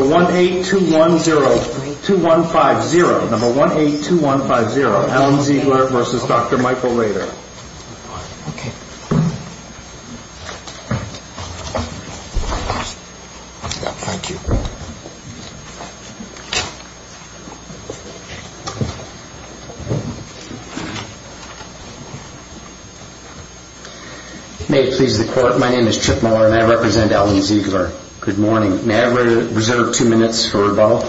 18210-2150, number 182150, Allen Zeigler v. Dr. Michael Rater. Thank you. May it please the Court, my name is Chip Miller and I represent Allen Zeigler. Good morning. May I reserve two minutes for rebuttal?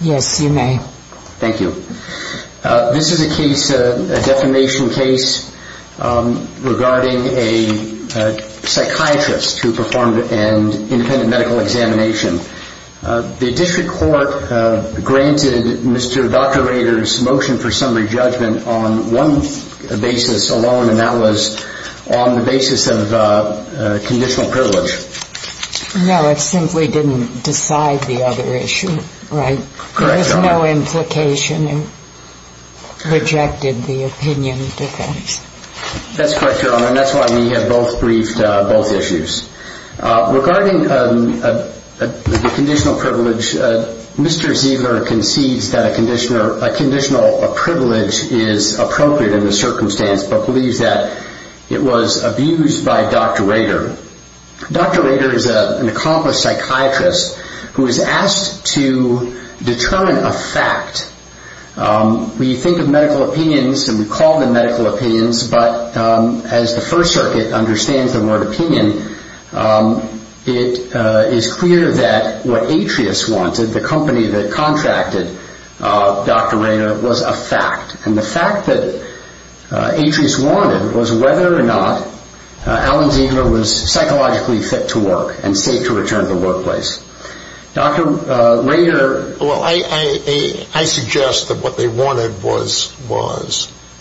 Yes, you may. Thank you. This is a case, a defamation case, regarding a psychiatrist who performed an independent medical examination. The district court granted Mr. Dr. Rater's motion for summary judgment on one basis alone, and that was on the basis of conditional privilege. No, it simply didn't decide the other issue, right? Correct, Your Honor. There was no implication, it rejected the opinion defense. That's correct, Your Honor, and that's why we have both briefed both issues. Regarding the conditional privilege, Mr. Zeigler concedes that a conditional privilege is appropriate in the circumstance, but believes that it was abused by Dr. Rater. Dr. Rater is an accomplished psychiatrist who is asked to determine a fact. We think of medical opinions and we call them medical opinions, but as the First Circuit understands the word opinion, it is clear that what Atrius wanted, the company that contracted Dr. Rater, was a fact. And the fact that Atrius wanted was whether or not Alan Zeigler was psychologically fit to work and safe to return to the workplace. Dr. Rater – Well, I suggest that what they wanted was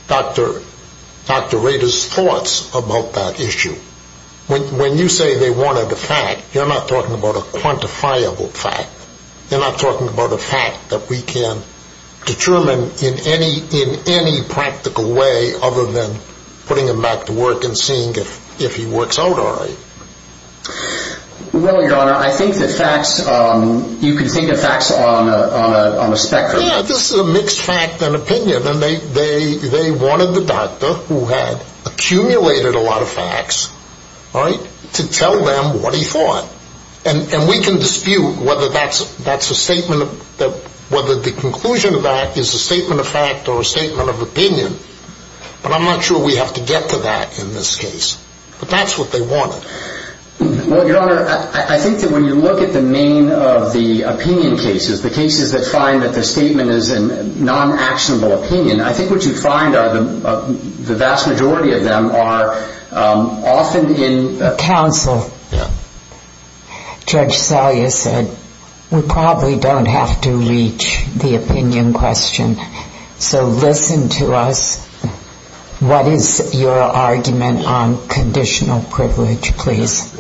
Dr. Rater's thoughts about that issue. When you say they wanted a fact, you're not talking about a quantifiable fact. You're not talking about a fact that we can determine in any practical way other than putting him back to work and seeing if he works out all right. Well, Your Honor, I think that facts – you can think of facts on a spectrum. Yeah, this is a mixed fact and opinion, and they wanted the doctor who had accumulated a lot of facts to tell them what he thought. And we can dispute whether the conclusion of that is a statement of fact or a statement of opinion, but I'm not sure we have to get to that in this case. But that's what they wanted. Well, Your Honor, I think that when you look at the main of the opinion cases, the cases that find that the statement is a non-actionable opinion, I think what you find are the vast majority of them are often in – Counsel. Yeah. Judge Salyer said we probably don't have to reach the opinion question. So listen to us. What is your argument on conditional privilege, please?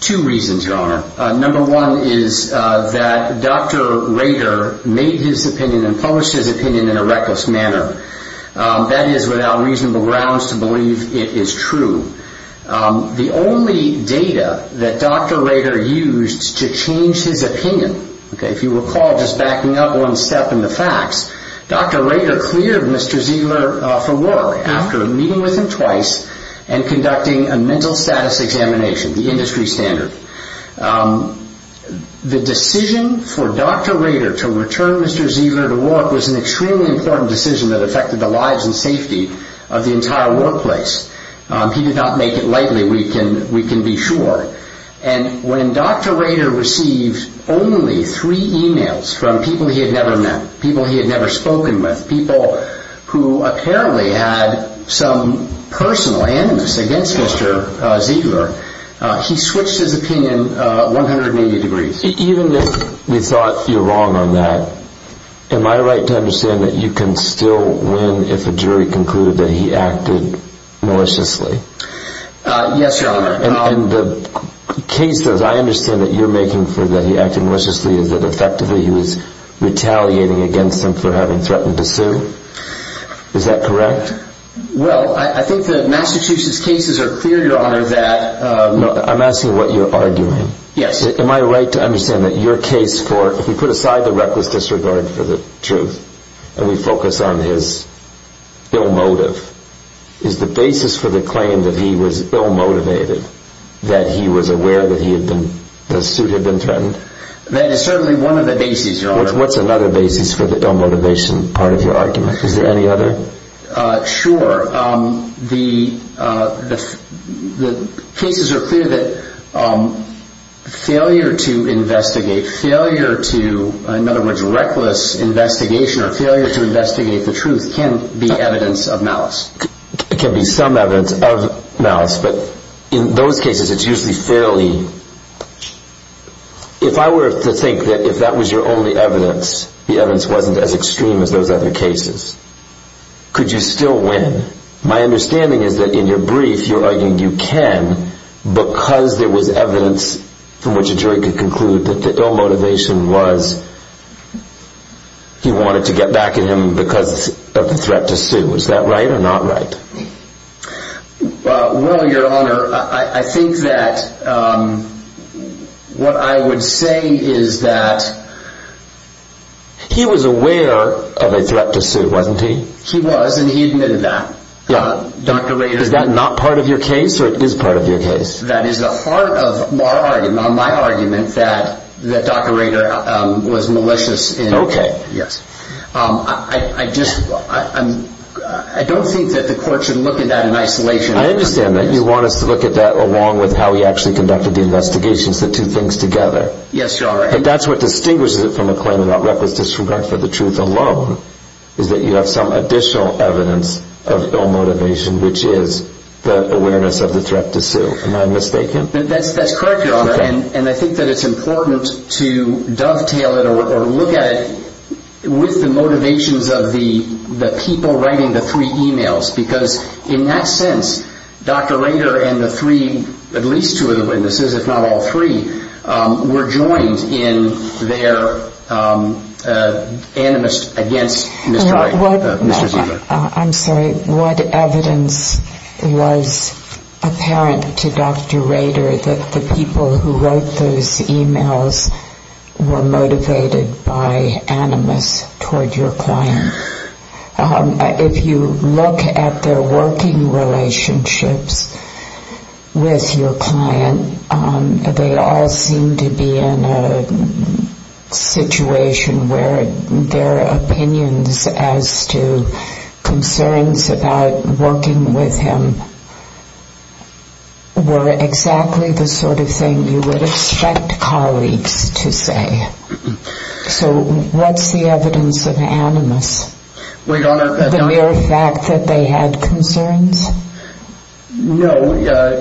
Two reasons, Your Honor. Number one is that Dr. Rader made his opinion and published his opinion in a reckless manner. That is without reasonable grounds to believe it is true. The only data that Dr. Rader used to change his opinion, if you recall just backing up one step in the facts, Dr. Rader cleared Mr. Ziegler for war after meeting with him twice and conducting a mental status examination, the industry standard. The decision for Dr. Rader to return Mr. Ziegler to work was an extremely important decision that affected the lives and safety of the entire workplace. He did not make it lightly, we can be sure. And when Dr. Rader received only three emails from people he had never met, people he had never spoken with, people who apparently had some personal animus against Mr. Ziegler, he switched his opinion 180 degrees. Even if we thought you're wrong on that, am I right to understand that you can still win if a jury concluded that he acted maliciously? Yes, Your Honor. And the case that I understand that you're making for that he acted maliciously is that effectively he was retaliating against them for having threatened to sue? Is that correct? Well, I think the Massachusetts cases are clear, Your Honor, that... I'm asking what you're arguing. Yes. Am I right to understand that your case for, if we put aside the reckless disregard for the truth and we focus on his ill motive, is the basis for the claim that he was ill motivated, that he was aware that the suit had been threatened? That is certainly one of the bases, Your Honor. What's another basis for the ill motivation part of your argument? Is there any other? Sure. The cases are clear that failure to investigate, failure to, in other words, reckless investigation or failure to investigate the truth can be evidence of malice. It can be some evidence of malice, but in those cases it's usually fairly... If I were to think that if that was your only evidence, the evidence wasn't as extreme as those other cases, could you still win? My understanding is that in your brief you're arguing you can because there was evidence from which a jury could conclude that the ill motivation was he wanted to get back at him because of the threat to sue. Is that right or not right? Well, Your Honor, I think that what I would say is that... He was aware of a threat to sue, wasn't he? He was and he admitted that. Is that not part of your case or it is part of your case? That is the heart of my argument that Dr. Rader was malicious. Okay. I don't think that the court should look at that in isolation. I understand that. You want us to look at that along with how he actually conducted the investigations, the two things together. Yes, Your Honor. But that's what distinguishes it from a claim about reckless disregard for the truth alone is that you have some additional evidence of ill motivation, which is the awareness of the threat to sue. Am I mistaken? That's correct, Your Honor. And I think that it's important to dovetail it or look at it with the motivations of the people writing the three emails because in that sense, Dr. Rader and the three, at least two of the witnesses, if not all three, were joined in their animus against Mr. Rader. I'm sorry. What evidence was apparent to Dr. Rader that the people who wrote those emails were motivated by animus toward your client? If you look at their working relationships with your client, they all seem to be in a situation where their opinions as to concerns about working with him were exactly the sort of thing you would expect colleagues to say. So what's the evidence of animus? The mere fact that they had concerns? No,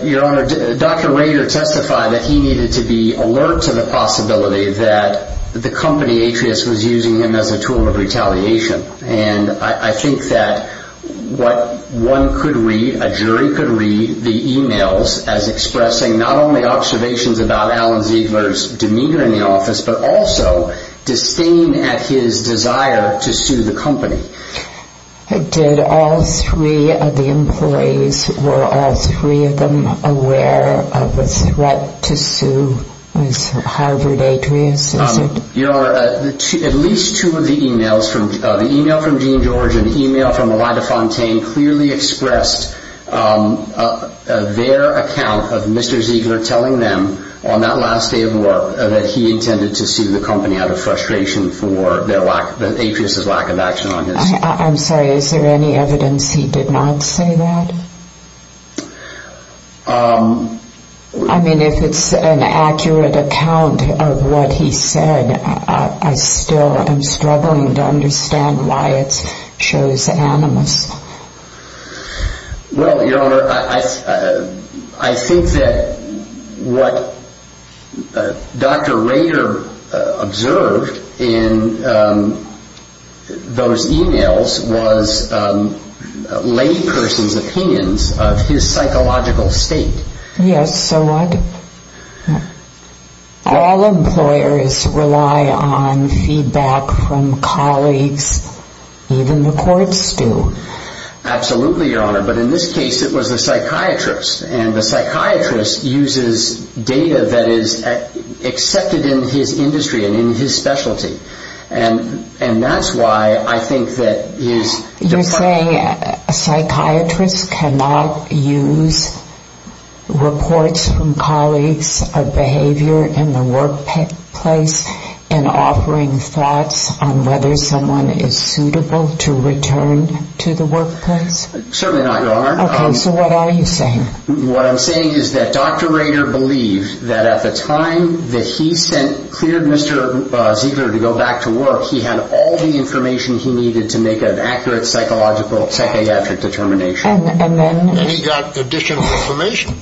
Your Honor. Dr. Rader testified that he needed to be alert to the possibility that the company, Atrius, was using him as a tool of retaliation. And I think that what one could read, a jury could read, the emails as expressing not only observations about Alan Ziegler's demeanor in the office, but also disdain at his desire to sue the company. Did all three of the employees, were all three of them aware of the threat to sue Harvard Atrius? Your Honor, at least two of the emails, the email from Gene George and the email from Melinda Fontaine, clearly expressed their account of Mr. Ziegler telling them on that last day of work that he intended to sue the company out of frustration for Atrius' lack of action on his behalf. I'm sorry, is there any evidence he did not say that? I mean, if it's an accurate account of what he said, I still am struggling to understand why it shows animus. Well, Your Honor, I think that what Dr. Rader observed in those emails was a layperson's opinions of his psychological state. Yes, so what? All employers rely on feedback from colleagues, even the courts do. Absolutely, Your Honor, but in this case it was the psychiatrist. And the psychiatrist uses data that is accepted in his industry and in his specialty. And that's why I think that his... You're saying a psychiatrist cannot use reports from colleagues of behavior in the workplace in offering thoughts on whether someone is suitable to return to the workplace? Certainly not, Your Honor. Okay, so what are you saying? What I'm saying is that Dr. Rader believed that at the time that he sent... cleared Mr. Ziegler to go back to work, he had all the information he needed to make an accurate psychological psychiatric determination. And then... And he got additional information.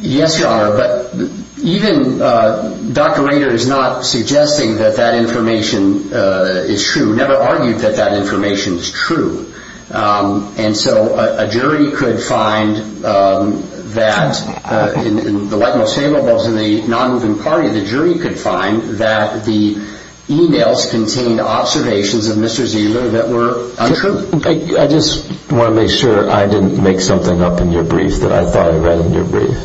Yes, Your Honor, but even Dr. Rader is not suggesting that that information is true. He never argued that that information is true. And so a jury could find that, in the light most favorable of the non-moving party, the jury could find that the emails contained observations of Mr. Ziegler that were untrue. I just want to make sure I didn't make something up in your brief that I thought I read in your brief.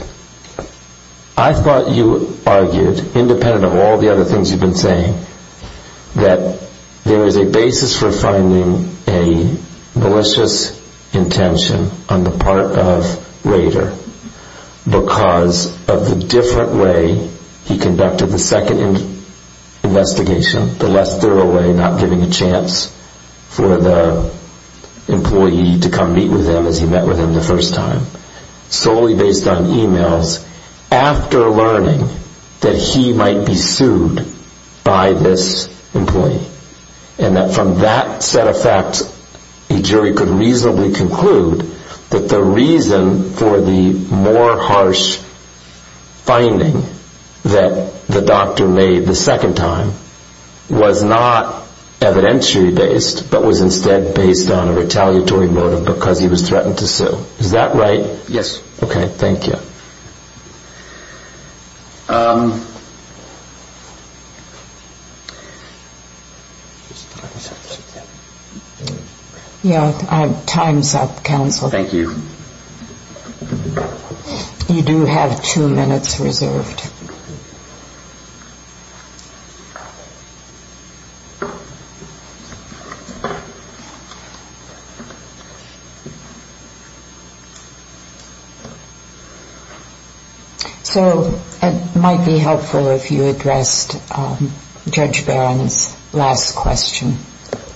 I thought you argued, independent of all the other things you've been saying, that there is a basis for finding a malicious intention on the part of Rader because of the different way he conducted the second investigation, the less thorough way, not giving a chance for the employee to come meet with him as he met with him the first time, solely based on emails after learning that he might be sued by this employee. And that from that set of facts, a jury could reasonably conclude that the reason for the more harsh finding that the doctor made the second time was not evidentiary based, but was instead based on a retaliatory motive because he was threatened to sue. Is that right? Yes. Okay, thank you. Um... Yeah, time's up, counsel. Thank you. You do have two minutes reserved. So it might be helpful if you addressed Judge Barron's last question.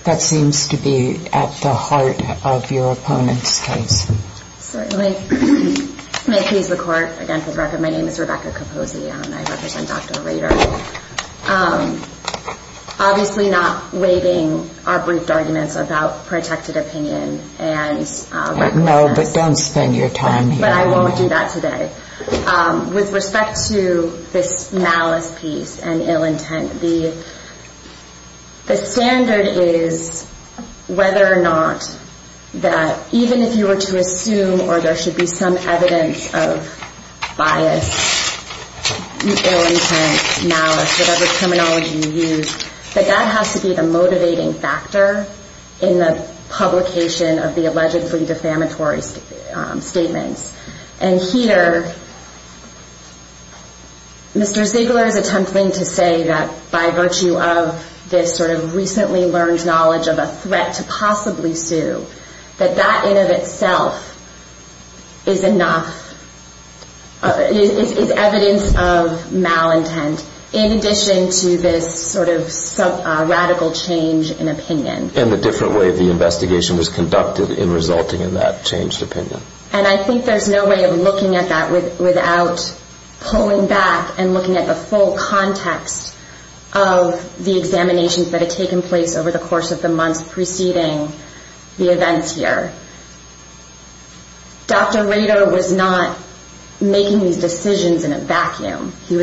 That seems to be at the heart of your opponent's case. Certainly. May it please the Court, again, for the record, my name is Rebecca Capozzi and I represent Dr. Rader. Obviously not weighting our briefed arguments about protected opinion and... No, but don't spend your time here. But I won't do that today. With respect to this malice piece and ill intent, the standard is whether or not that even if you were to assume or there should be some evidence of bias, ill intent, malice, whatever terminology you use, that that has to be the motivating factor in the publication of the allegedly defamatory statements. And here, Mr. Ziegler is attempting to say that by virtue of this sort of recently learned knowledge of a threat to possibly sue, that that in and of itself is enough, is evidence of malintent, in addition to this sort of radical change in opinion. And the different way the investigation was conducted in resulting in that changed opinion. And I think there's no way of looking at that without pulling back and looking at the full context of the examinations that had taken place over the course of the months preceding the events here. Dr. Rader was not making these decisions in a vacuum. He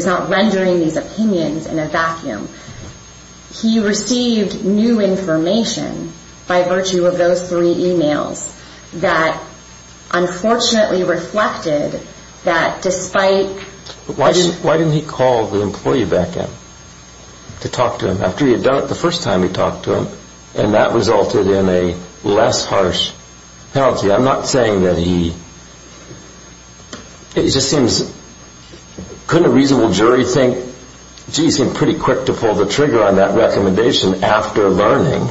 received new information by virtue of those three emails that unfortunately reflected that despite... Why didn't he call the employee back in to talk to him after he had done it the first time he talked to him? And that resulted in a less harsh penalty. I'm not saying that he... Couldn't a reasonable jury think, gee, he seemed pretty quick to pull the trigger on that recommendation after learning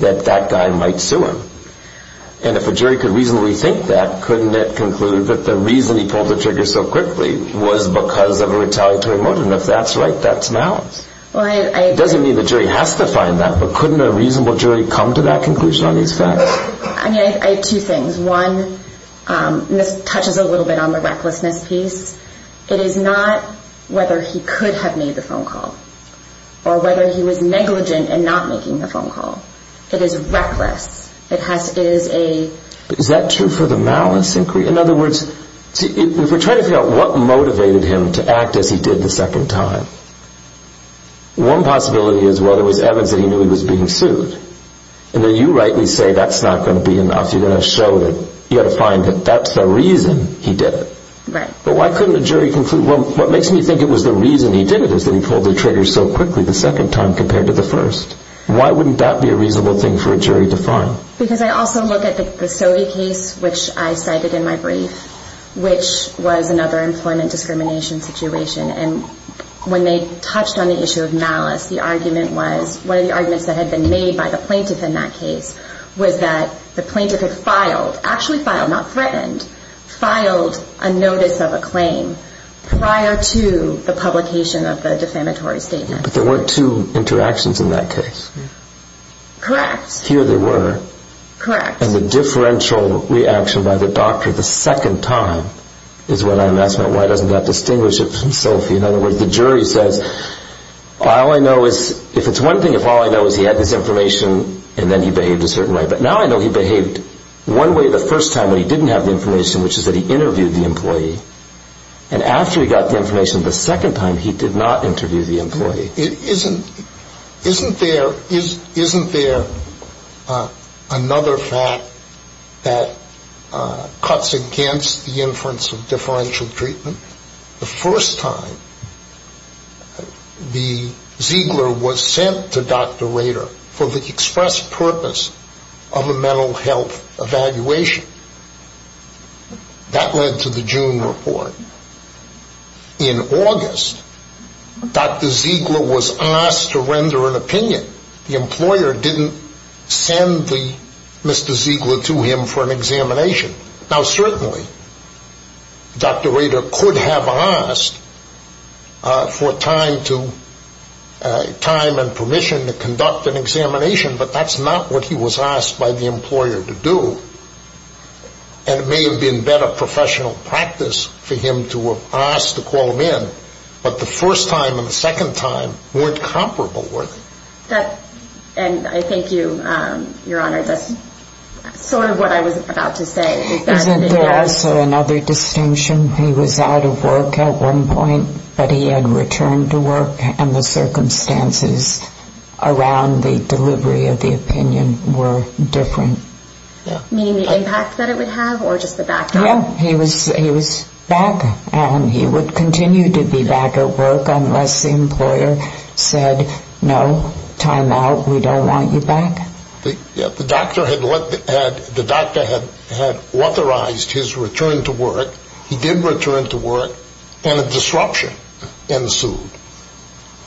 that that guy might sue him? And if a jury could reasonably think that, couldn't it conclude that the reason he pulled the trigger so quickly was because of a retaliatory motive? And if that's right, that's balanced. It doesn't mean the jury has to find that, but couldn't a reasonable jury come to that conclusion on these facts? I mean, I have two things. This touches a little bit on the recklessness piece. It is not whether he could have made the phone call or whether he was negligent in not making the phone call. It is reckless. It is a... Is that true for the malice inquiry? In other words, if we're trying to figure out what motivated him to act as he did the second time, one possibility is, well, there was evidence that he knew he was being sued. And then you rightly say that's not going to be enough. You're going to have to find that that's the reason he did it. Right. But why couldn't a jury conclude... Well, what makes me think it was the reason he did it is that he pulled the trigger so quickly the second time compared to the first. Why wouldn't that be a reasonable thing for a jury to find? Because I also look at the Stowe case, which I cited in my brief, which was another employment discrimination situation. And when they touched on the issue of malice, the argument was... One of the arguments that had been made by the plaintiff in that case was that the plaintiff had filed, actually filed, not threatened, filed a notice of a claim prior to the publication of the defamatory statement. But there weren't two interactions in that case. Correct. Here there were. Correct. And the differential reaction by the doctor the second time is what I'm asking. Why doesn't that distinguish it from Sophie? In other words, the jury says, all I know is... If it's one thing, if all I know is he had this information and then he behaved a certain way. But now I know he behaved one way the first time when he didn't have the information, which is that he interviewed the employee. And after he got the information the second time, he did not interview the employee. Isn't there another fact that cuts against the inference of differential treatment? The first time the Ziegler was sent to Dr. Rader for the express purpose of a mental health evaluation. That led to the June report. In August, Dr. Ziegler was asked to render an opinion. The employer didn't send Mr. Ziegler to him for an examination. Now certainly, Dr. Rader could have asked for time and permission to conduct an examination, but that's not what he was asked by the employer to do. And it may have been better professional practice for him to have asked to call him in. But the first time and the second time weren't comparable worth it. And I thank you, Your Honor. That's sort of what I was about to say. Isn't there also another distinction? He was out of work at one point, but he had returned to work, and the circumstances around the delivery of the opinion were different. Meaning the impact that it would have or just the backdrop? Yeah, he was back, and he would continue to be back at work unless the employer said, no, time out, we don't want you back. The doctor had authorized his return to work. He did return to work, and a disruption ensued.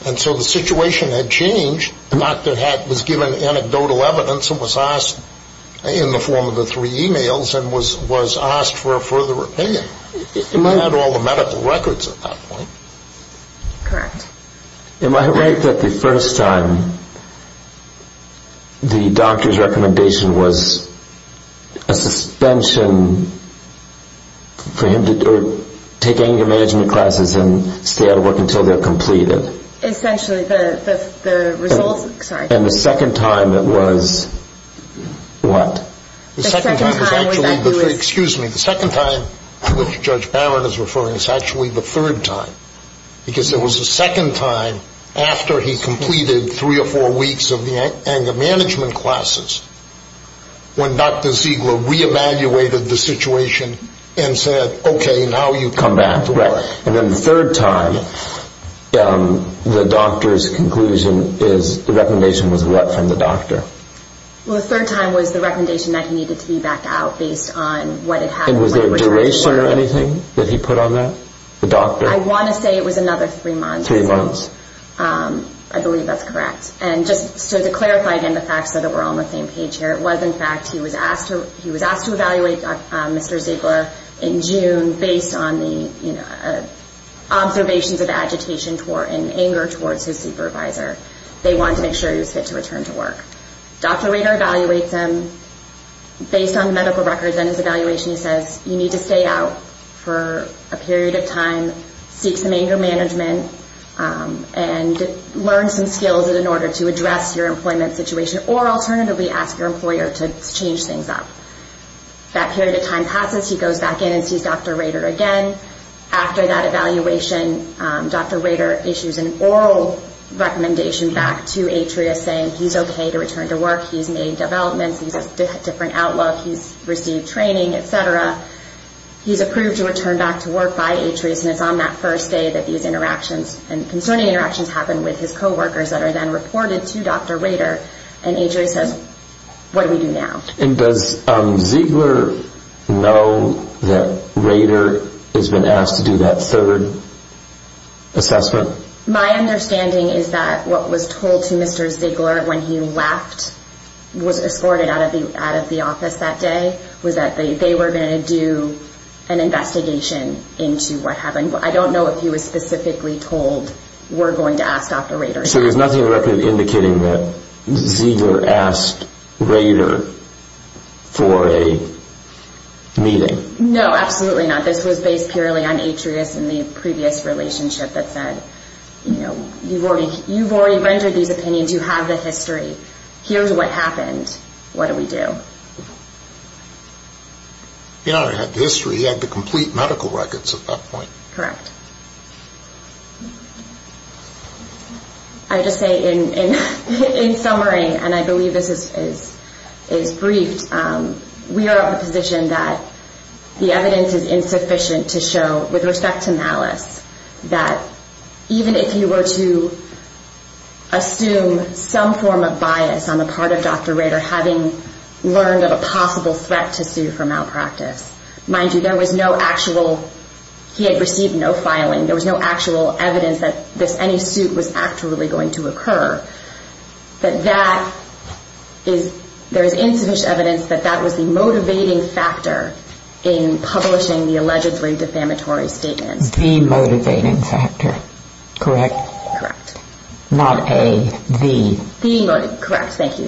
And so the situation had changed. The doctor was given anecdotal evidence and was asked in the form of the three emails and was asked for a further opinion. He had all the medical records at that point. Correct. Am I right that the first time the doctor's recommendation was a suspension for him to take anger management classes and stay out of work until they're completed? Essentially, the results, sorry. And the second time it was what? The second time was actually, excuse me, the second time to which Judge Barrett is referring is actually the third time because it was the second time after he completed three or four weeks of the anger management classes when Dr. Ziegler reevaluated the situation and said, okay, now you can come back to work. And then the third time, the doctor's conclusion is, the recommendation was what from the doctor? Well, the third time was the recommendation that he needed to be back out based on what had happened when he returned to work. And was there a duration or anything that he put on that, the doctor? I want to say it was another three months. I believe that's correct. And just to clarify again the facts so that we're all on the same page here, it was, in fact, he was asked to evaluate Mr. Ziegler in June based on the observations of agitation and anger towards his supervisor. They wanted to make sure he was fit to return to work. Dr. Rader evaluates him based on the medical records and his evaluation. Seeks some anger management and learns some skills in order to address your employment situation or alternatively ask your employer to change things up. That period of time passes. He goes back in and sees Dr. Rader again. After that evaluation, Dr. Rader issues an oral recommendation back to Atria saying he's okay to return to work. He's made developments. He has a different outlook. He's received training, et cetera. He's approved to return back to work by Atria. And it's on that first day that these interactions and concerning interactions happen with his coworkers that are then reported to Dr. Rader. And Atria says, what do we do now? And does Ziegler know that Rader has been asked to do that third assessment? My understanding is that what was told to Mr. Ziegler when he left was escorted out of the office that day. It was that they were going to do an investigation into what happened. I don't know if he was specifically told we're going to ask Dr. Rader. So there's nothing in the record indicating that Ziegler asked Rader for a meeting? No, absolutely not. This was based purely on Atria's and the previous relationship that said, you know, you've already rendered these opinions. You have the history. Here's what happened. What do we do? He already had the history. He had the complete medical records at that point. Correct. I would just say in summary, and I believe this is briefed, we are of the position that the evidence is insufficient to show, with respect to malice, that even if you were to assume some form of bias on the part of Dr. Rader, having learned of a possible threat to sue for malpractice, mind you, there was no actual he had received no filing, there was no actual evidence that any suit was actually going to occur, that there is insufficient evidence that that was the motivating factor in publishing the allegedly defamatory statement. The motivating factor. Correct? Correct. Not a. The. Correct.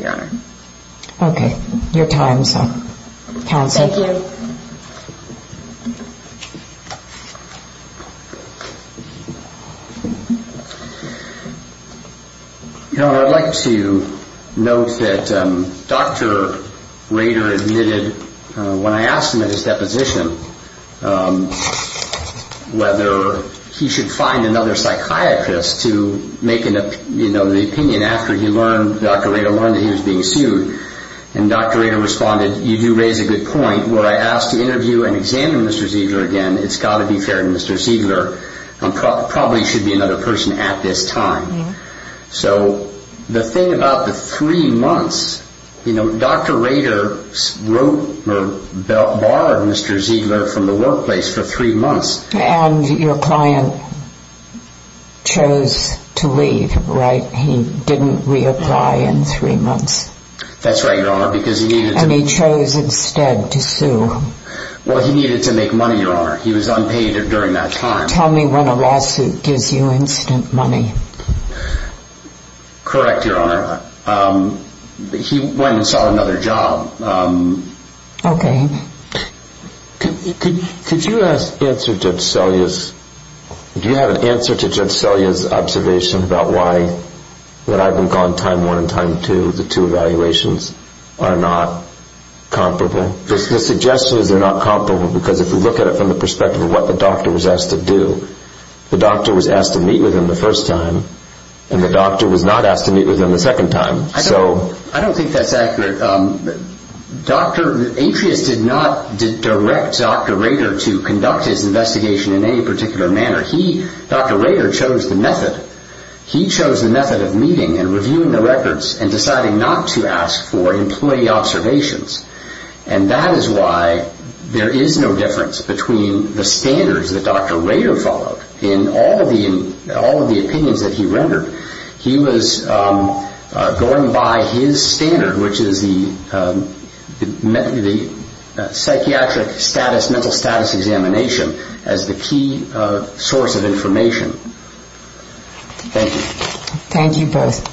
Okay. Your time is up. Counsel. Thank you. I'd like to note that Dr. Rader admitted, when I asked him at his deposition, whether he should find another psychiatrist to make an opinion after he learned, Dr. Rader learned that he was being sued. And Dr. Rader responded, you do raise a good point. Where I asked to interview and examine Mr. Ziegler again, it's got to be fair to Mr. Ziegler, there probably should be another person at this time. Yeah. So the thing about the three months, you know, Dr. Rader borrowed Mr. Ziegler from the workplace for three months. And your client chose to leave, right? He didn't reapply in three months. That's right, Your Honor, because he needed to. And he chose instead to sue. Well, he needed to make money, Your Honor. He was unpaid during that time. Tell me when a lawsuit gives you instant money. Correct, Your Honor. He went and saw another job. Okay. Could you answer Judge Selya's, do you have an answer to Judge Selya's observation about why, that I've been called time one and time two, the two evaluations, are not comparable? The suggestion is they're not comparable, because if you look at it from the perspective of what the doctor was asked to do, the doctor was asked to meet with him the first time, and the doctor was not asked to meet with him the second time. I don't think that's accurate. Atrius did not direct Dr. Rader to conduct his investigation in any particular manner. Dr. Rader chose the method. He chose the method of meeting and reviewing the records and deciding not to ask for employee observations. And that is why there is no difference between the standards that Dr. Rader followed in all of the opinions that he rendered. He was going by his standard, which is the psychiatric mental status examination, as the key source of information. Thank you. Thank you both.